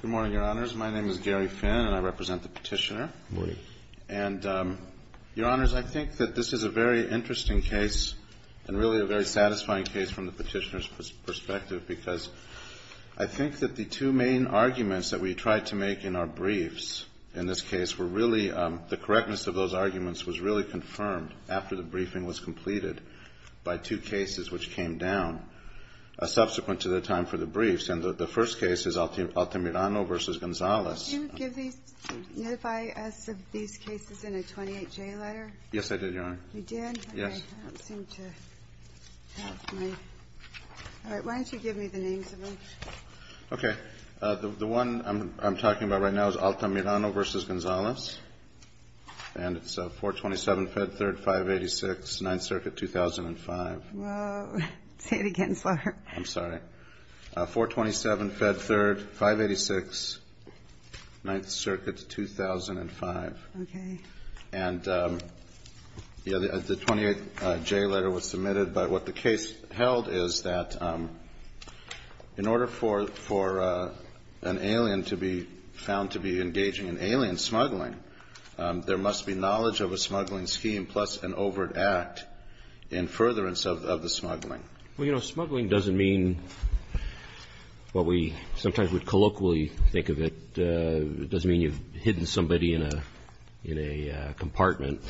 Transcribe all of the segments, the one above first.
Good morning, Your Honors. My name is Gary Finn, and I represent the Petitioner. Good morning. And, Your Honors, I think that this is a very interesting case and really a very satisfying case from the Petitioner's perspective because I think that the two main arguments that we tried to make in our briefs in this case were really the correctness of those arguments was really confirmed after the briefing was completed by two cases which came down subsequent to the time for the briefs. And the first case is Altamirano v. Gonzales. Could you give these – notify us of these cases in a 28-J letter? Yes, I did, Your Honor. You did? Yes. I don't seem to have my – all right, why don't you give me the names of them? Okay. The one I'm talking about right now is Altamirano v. Gonzales, and it's 427 Fed Third 586, 9th Circuit, 2005. Say it again slower. I'm sorry. 427 Fed Third 586, 9th Circuit, 2005. Okay. And the 28-J letter was submitted, but what the case held is that in order for an alien to be found to be engaging in alien smuggling, there must be knowledge of a smuggling scheme plus an overt act in furtherance of the smuggling. Well, you know, smuggling doesn't mean what we sometimes would colloquially think of it. It doesn't mean you've hidden somebody in a compartment.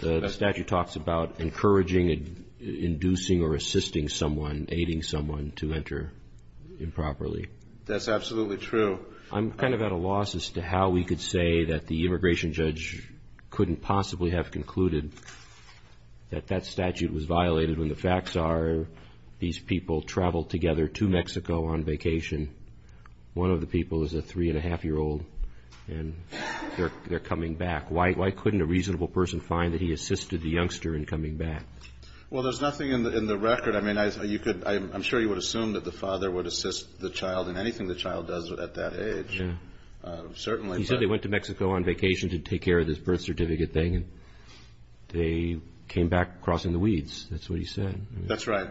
The statute talks about encouraging, inducing, or assisting someone, aiding someone to enter improperly. That's absolutely true. I'm kind of at a loss as to how we could say that the immigration judge couldn't possibly have concluded that that statute was violated when the facts are these people traveled together to Mexico on vacation. One of the people is a three-and-a-half-year-old, and they're coming back. Why couldn't a reasonable person find that he assisted the youngster in coming back? Well, there's nothing in the record. I'm sure you would assume that the father would assist the child in anything the child does at that age, certainly. He said they went to Mexico on vacation to take care of this birth certificate thing, and they came back crossing the weeds. That's what he said. That's right.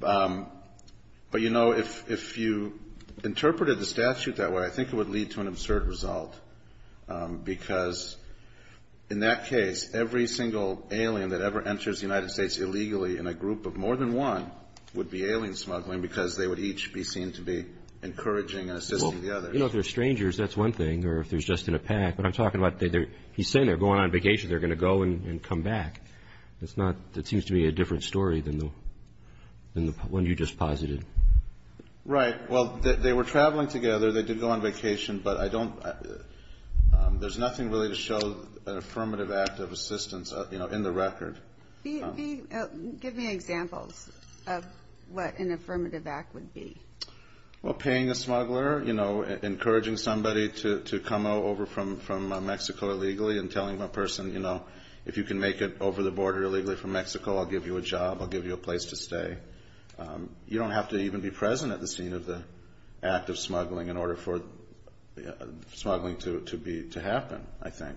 But, you know, if you interpreted the statute that way, I think it would lead to an absurd result because in that case, every single alien that ever enters the United States illegally in a group of more than one would be alien smuggling because they would each be seen to be encouraging and assisting the others. Well, you know, if they're strangers, that's one thing, or if they're just in a pack. But I'm talking about he's saying they're going on vacation. They're going to go and come back. That seems to be a different story than the one you just posited. Right. Well, they were traveling together. They did go on vacation, but I don't – there's nothing really to show an affirmative act of assistance, you know, in the record. Give me examples of what an affirmative act would be. Well, paying a smuggler, you know, encouraging somebody to come over from Mexico illegally and telling the person, you know, if you can make it over the border illegally from Mexico, I'll give you a job. I'll give you a place to stay. You don't have to even be present at the scene of the act of smuggling in order for smuggling to happen, I think.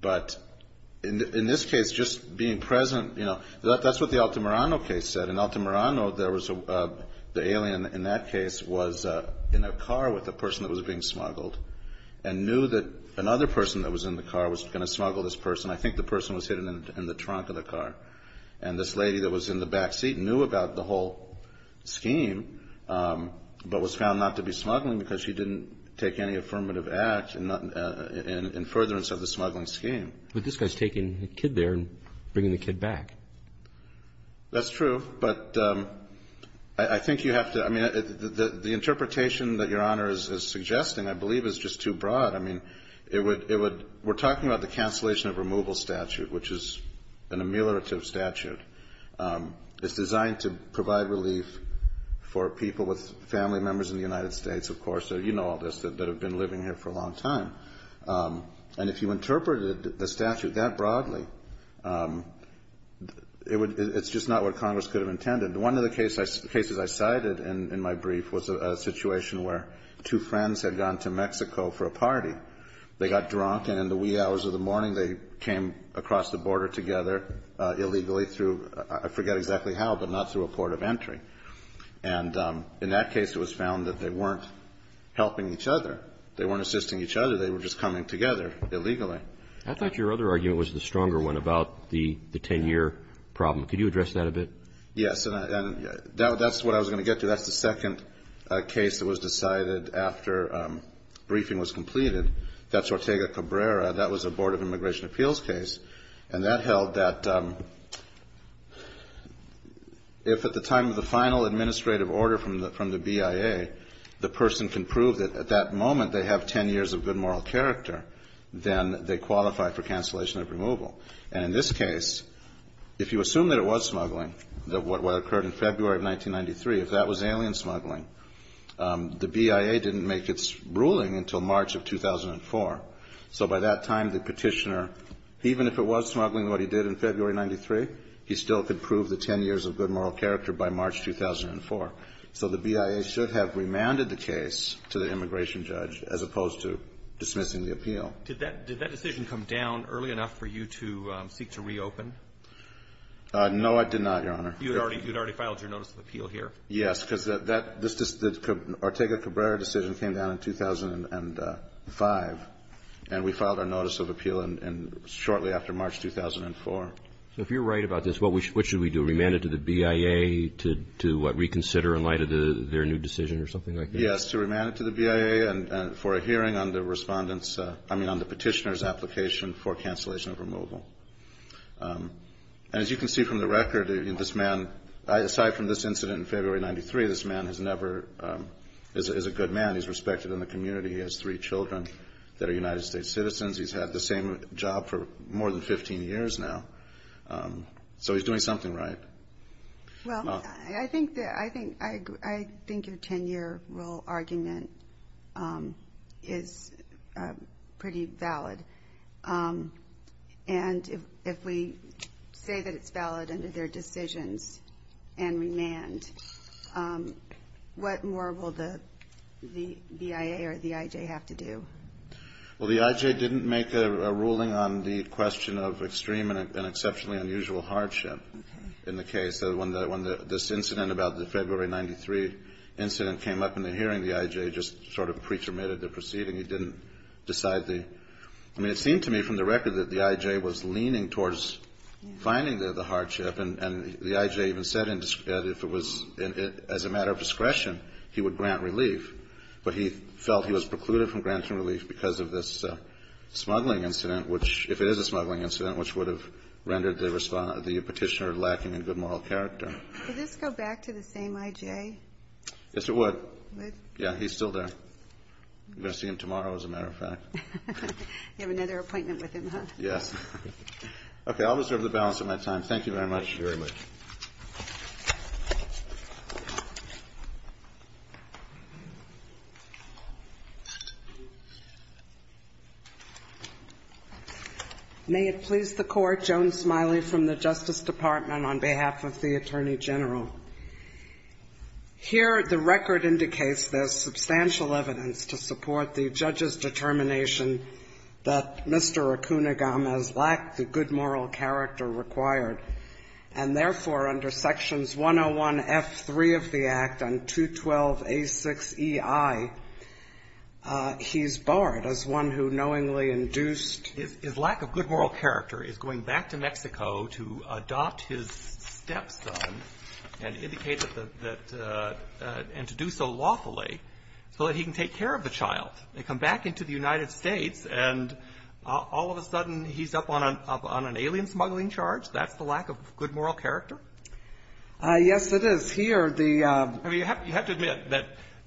But in this case, just being present, you know, that's what the Altamirano case said. In Altamirano, there was – the alien in that case was in a car with a person that was being smuggled and knew that another person that was in the car was going to smuggle this person. I think the person was hidden in the trunk of the car. And this lady that was in the back seat knew about the whole scheme but was found not to be smuggling because she didn't take any affirmative act in furtherance of the smuggling scheme. But this guy's taking the kid there and bringing the kid back. That's true. But I think you have to – I mean, the interpretation that Your Honor is suggesting, I believe, is just too broad. I mean, it would – we're talking about the cancellation of removal statute, which is an ameliorative statute. It's designed to provide relief for people with family members in the United States, of course. You know all this, that have been living here for a long time. And if you interpreted the statute that broadly, it's just not what Congress could have intended. One of the cases I cited in my brief was a situation where two friends had gone to Mexico for a party. They got drunk, and in the wee hours of the morning, they came across the border together illegally through – I forget exactly how, but not through a port of entry. And in that case, it was found that they weren't helping each other. They weren't assisting each other. They were just coming together illegally. I thought your other argument was the stronger one about the 10-year problem. Could you address that a bit? Yes. And that's what I was going to get to. That's the second case that was decided after briefing was completed. That's Ortega Cabrera. That was a Board of Immigration Appeals case. And that held that if at the time of the final administrative order from the BIA, the person can prove that at that moment they have 10 years of good moral character, then they qualify for cancellation of removal. And in this case, if you assume that it was smuggling, what occurred in February of 1993, if that was alien smuggling, the BIA didn't make its ruling until March of 2004. So by that time, the Petitioner, even if it was smuggling, what he did in February of 1993, he still could prove the 10 years of good moral character by March 2004. So the BIA should have remanded the case to the immigration judge as opposed to dismissing the appeal. Did that decision come down early enough for you to seek to reopen? No, it did not, Your Honor. You had already filed your notice of appeal here? Yes, because the Ortega Cabrera decision came down in 2005, and we filed our notice of appeal shortly after March 2004. So if you're right about this, what should we do? Remand it to the BIA to reconsider in light of their new decision or something like that? Yes, to remand it to the BIA and for a hearing on the Petitioner's application for cancellation of removal. And as you can see from the record, this man, aside from this incident in February of 1993, this man is a good man. He's respected in the community. He has three children that are United States citizens. He's had the same job for more than 15 years now. So he's doing something right. Well, I think your 10-year rule argument is pretty valid. And if we say that it's valid under their decisions and remand, what more will the BIA or the IJ have to do? Well, the IJ didn't make a ruling on the question of extreme and exceptionally unusual hardship in the case. When this incident about the February of 1993 incident came up in the hearing, the IJ just sort of pre-terminated the proceeding. He didn't decide the – I mean, it seemed to me from the record that the IJ was leaning towards finding the hardship. And the IJ even said if it was as a matter of discretion, he would grant relief. But he felt he was precluded from granting relief because of this smuggling incident, which – if it is a smuggling incident, which would have rendered the Petitioner lacking in good moral character. Could this go back to the same IJ? Yes, it would. Would? Yeah. He's still there. You're going to see him tomorrow, as a matter of fact. You have another appointment with him, huh? Yes. I'll reserve the balance of my time. Thank you very much. Thank you very much. May it please the Court. Joan Smiley from the Justice Department on behalf of the Attorney General. Here, the record indicates there's substantial evidence to support the judge's determination that Mr. Acunagam has lacked the good moral character required and, therefore, under Sections 101F3 of the Act and 212A6EI, he's barred as one who knowingly induced his lack of good moral character, is going back to Mexico to adopt his stepson and indicate that the – and to do so lawfully so that he can take care of the child. They come back into the United States, and all of a sudden, he's up on an alien smuggling charge. That's the lack of good moral character? Yes, it is. Here, the – I mean, you have to admit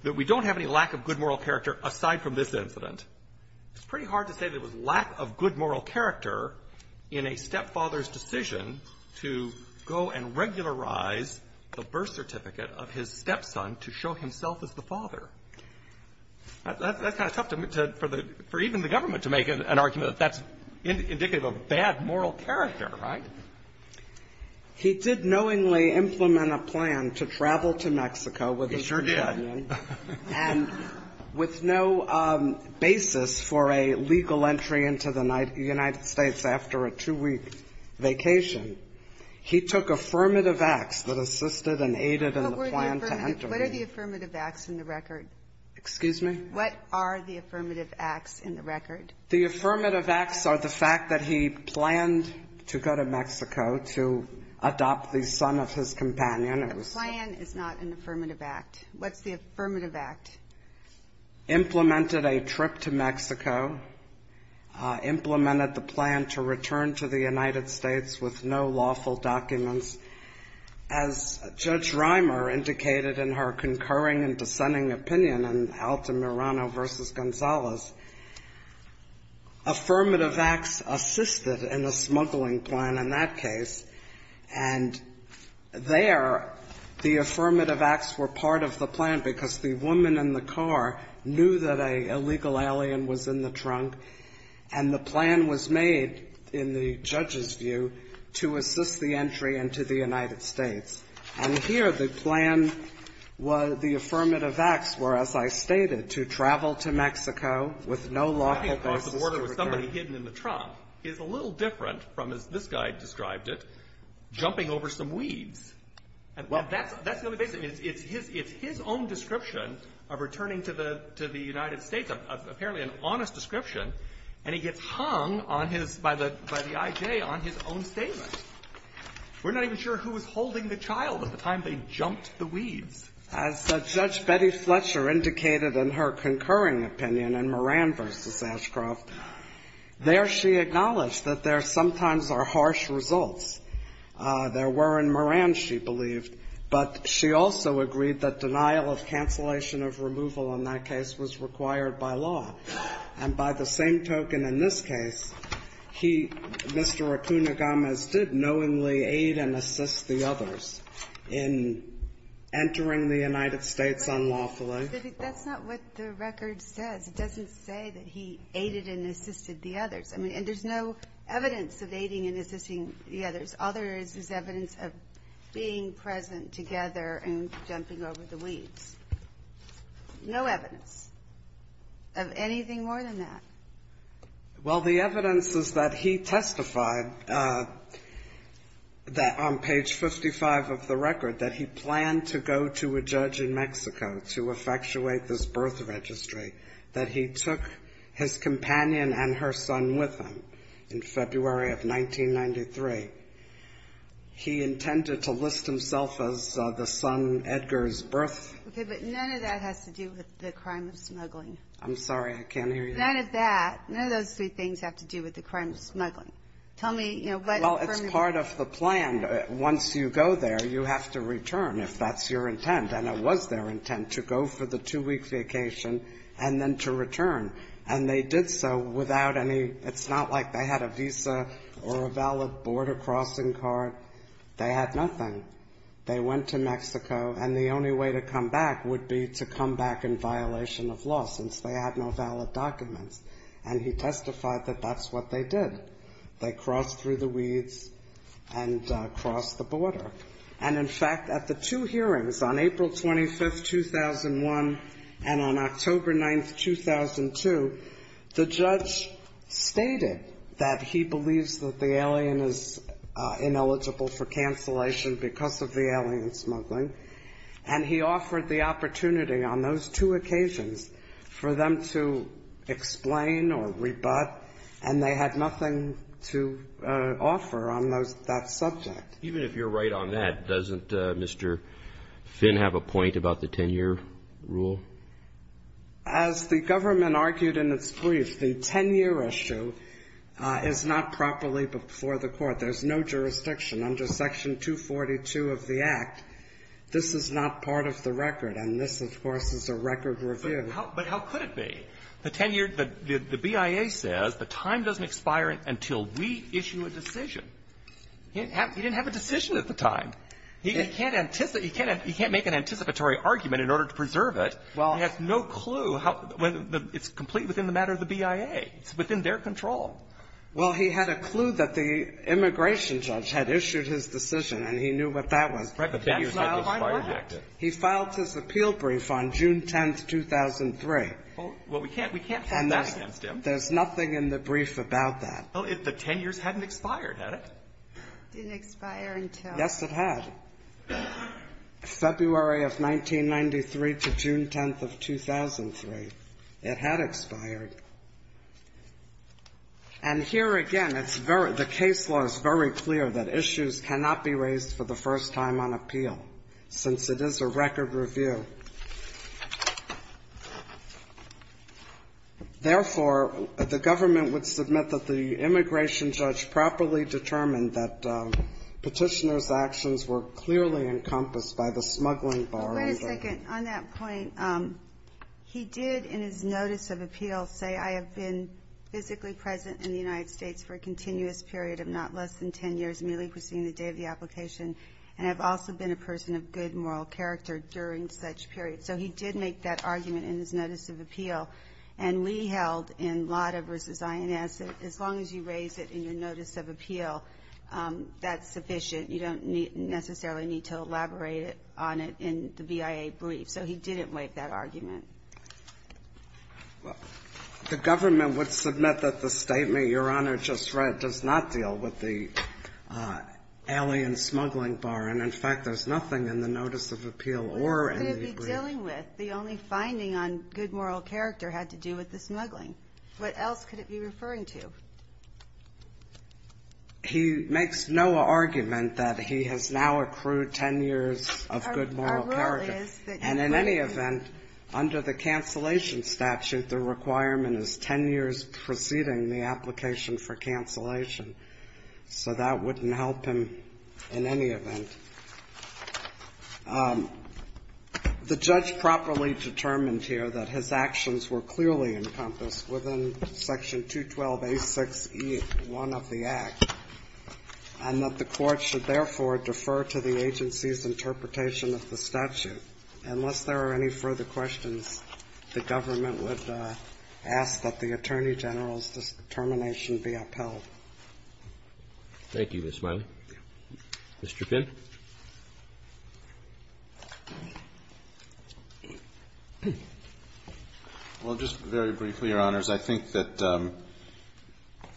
that we don't have any lack of good moral character aside from this incident. It's pretty hard to say that it was lack of good moral character in a stepfather's decision to go and regularize the birth certificate of his stepson to show himself as the father. That's kind of tough for even the government to make an argument that that's indicative of bad moral character, right? He did knowingly implement a plan to travel to Mexico with his companion. He sure did. And with no basis for a legal entry into the United States after a two-week vacation, he took affirmative acts that assisted and aided in the plan to enter the United States. What are the affirmative acts in the record? Excuse me? What are the affirmative acts in the record? The affirmative acts are the fact that he planned to go to Mexico to adopt the son of his companion. The plan is not an affirmative act. What's the affirmative act? Implemented a trip to Mexico. Implemented the plan to return to the United States with no lawful documents. As Judge Reimer indicated in her concurring and dissenting opinion in Altamirano v. Gonzalez, affirmative acts assisted in the smuggling plan in that case. And there, the affirmative acts were part of the plan because the woman in the car knew that an illegal alien was in the trunk, and the plan was made, in the judge's view, to assist the entry into the United States. And here, the plan was the affirmative acts were, as I stated, to travel to Mexico with no lawful basis to return. Crossing the border with somebody hidden in the trunk is a little different from, as this guy described it, jumping over some weeds. Well, that's the only basis. It's his own description of returning to the United States, apparently an honest description, and he gets hung on his by the I.J. on his own statement. We're not even sure who was holding the child at the time they jumped the weeds. As Judge Betty Fletcher indicated in her concurring opinion in Moran v. Ashcroft, there she acknowledged that there sometimes are harsh results. There were in Moran, she believed, but she also agreed that denial of cancellation of removal in that case was required by law. And by the same token in this case, he, Mr. Acuna-Gomez, did knowingly aid and assist the others in entering the United States unlawfully. But that's not what the record says. It doesn't say that he aided and assisted the others. I mean, and there's no evidence of aiding and assisting the others. All there is is evidence of being present together and jumping over the weeds. No evidence of anything more than that. Well, the evidence is that he testified that on page 55 of the record that he planned to go to a judge in Mexico to effectuate this birth registry, that he took his companion and her son with him in February of 1993. He intended to list himself as the son Edgar's birth. Okay. But none of that has to do with the crime of smuggling. I'm sorry. I can't hear you. None of that, none of those three things have to do with the crime of smuggling. Tell me, you know, what from your ---- Well, it's part of the plan. Once you go there, you have to return, if that's your intent. And it was their intent to go for the two-week vacation and then to return. And they did so without any ---- it's not like they had a visa or a valid border crossing card. They had nothing. They went to Mexico, and the only way to come back would be to come back in violation of law, since they had no valid documents. And he testified that that's what they did. They crossed through the weeds and crossed the border. And, in fact, at the two hearings, on April 25th, 2001, and on October 9th, 2002, the judge stated that he believes that the alien is ineligible for cancellation because of the alien smuggling. And he offered the opportunity on those two occasions for them to explain or rebut, and they had nothing to offer on that subject. Even if you're right on that, doesn't Mr. Finn have a point about the 10-year rule? As the government argued in its brief, the 10-year issue is not properly before the Court. There's no jurisdiction. Under Section 242 of the Act, this is not part of the record. And this, of course, is a record review. But how could it be? The 10-year ---- the BIA says the time doesn't expire until we issue a decision. He didn't have a decision at the time. He can't anticipate. He can't make an anticipatory argument in order to preserve it. He has no clue how the ---- it's complete within the matter of the BIA. It's within their control. Well, he had a clue that the immigration judge had issued his decision, and he knew what that was. Right. But that's not in my record. That's not in my record. He filed his appeal brief on June 10th, 2003. Well, we can't ---- we can't file that against him. There's nothing in the brief about that. Well, the 10 years hadn't expired, had it? Didn't expire until ---- Yes, it had. February of 1993 to June 10th of 2003, it had expired. And here again, it's very ---- the case law is very clear that issues cannot be raised for the first time on appeal, since it is a record review. Therefore, the government would submit that the immigration judge properly determined that Petitioner's actions were clearly encompassed by the smuggling bar. Wait a second. On that point, he did, in his notice of appeal, say, I have been physically present in the United States for a continuous period of not less than 10 years, merely proceeding the date of the application, and have also been a person of good moral character during such period. So he did make that argument in his notice of appeal. And we held in Lada v. INS, as long as you raise it in your notice of appeal, that's sufficient. You don't necessarily need to elaborate on it in the BIA brief. So he didn't make that argument. Well, the government would submit that the statement Your Honor just read does not deal with the alien smuggling bar. And, in fact, there's nothing in the notice of appeal or in the brief. What could it be dealing with? The only finding on good moral character had to do with the smuggling. What else could it be referring to? He makes no argument that he has now accrued 10 years of good moral character. Our rule is that you can't do that. And in any event, under the cancellation statute, the requirement is 10 years preceding the application for cancellation. So that wouldn't help him in any event. The judge properly determined here that his actions were clearly encompassed within Section 212A6E1 of the Act, and that the court should therefore defer to the agency's interpretation of the statute. Unless there are any further questions, the government would ask that the Attorney General's determination be upheld. Thank you, Ms. Smiley. Mr. Pinn. Well, just very briefly, Your Honors, I think that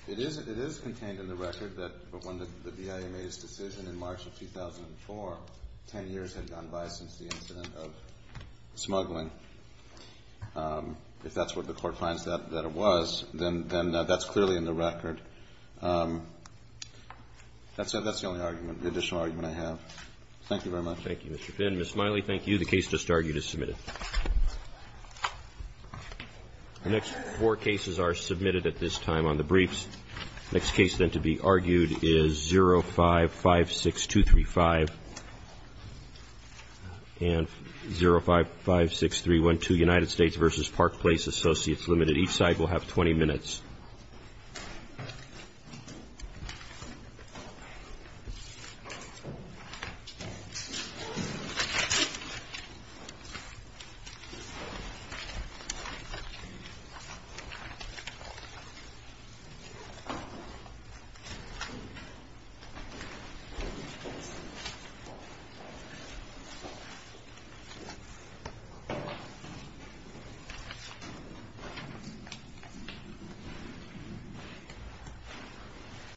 it is contained in the record that when the BIA made its decision in March of 2004, 10 years had gone by since the incident of smuggling. If that's what the Court finds that it was, then that's clearly in the record. That's the only argument, the additional argument I have. Thank you very much. Thank you, Mr. Pinn. Ms. Smiley, thank you. The case just argued is submitted. The next four cases are submitted at this time on the briefs. The next case, then, to be argued is 0556235 and 0556312, United States v. Park Place, Associates Limited. Each side will have 20 minutes. Thank you.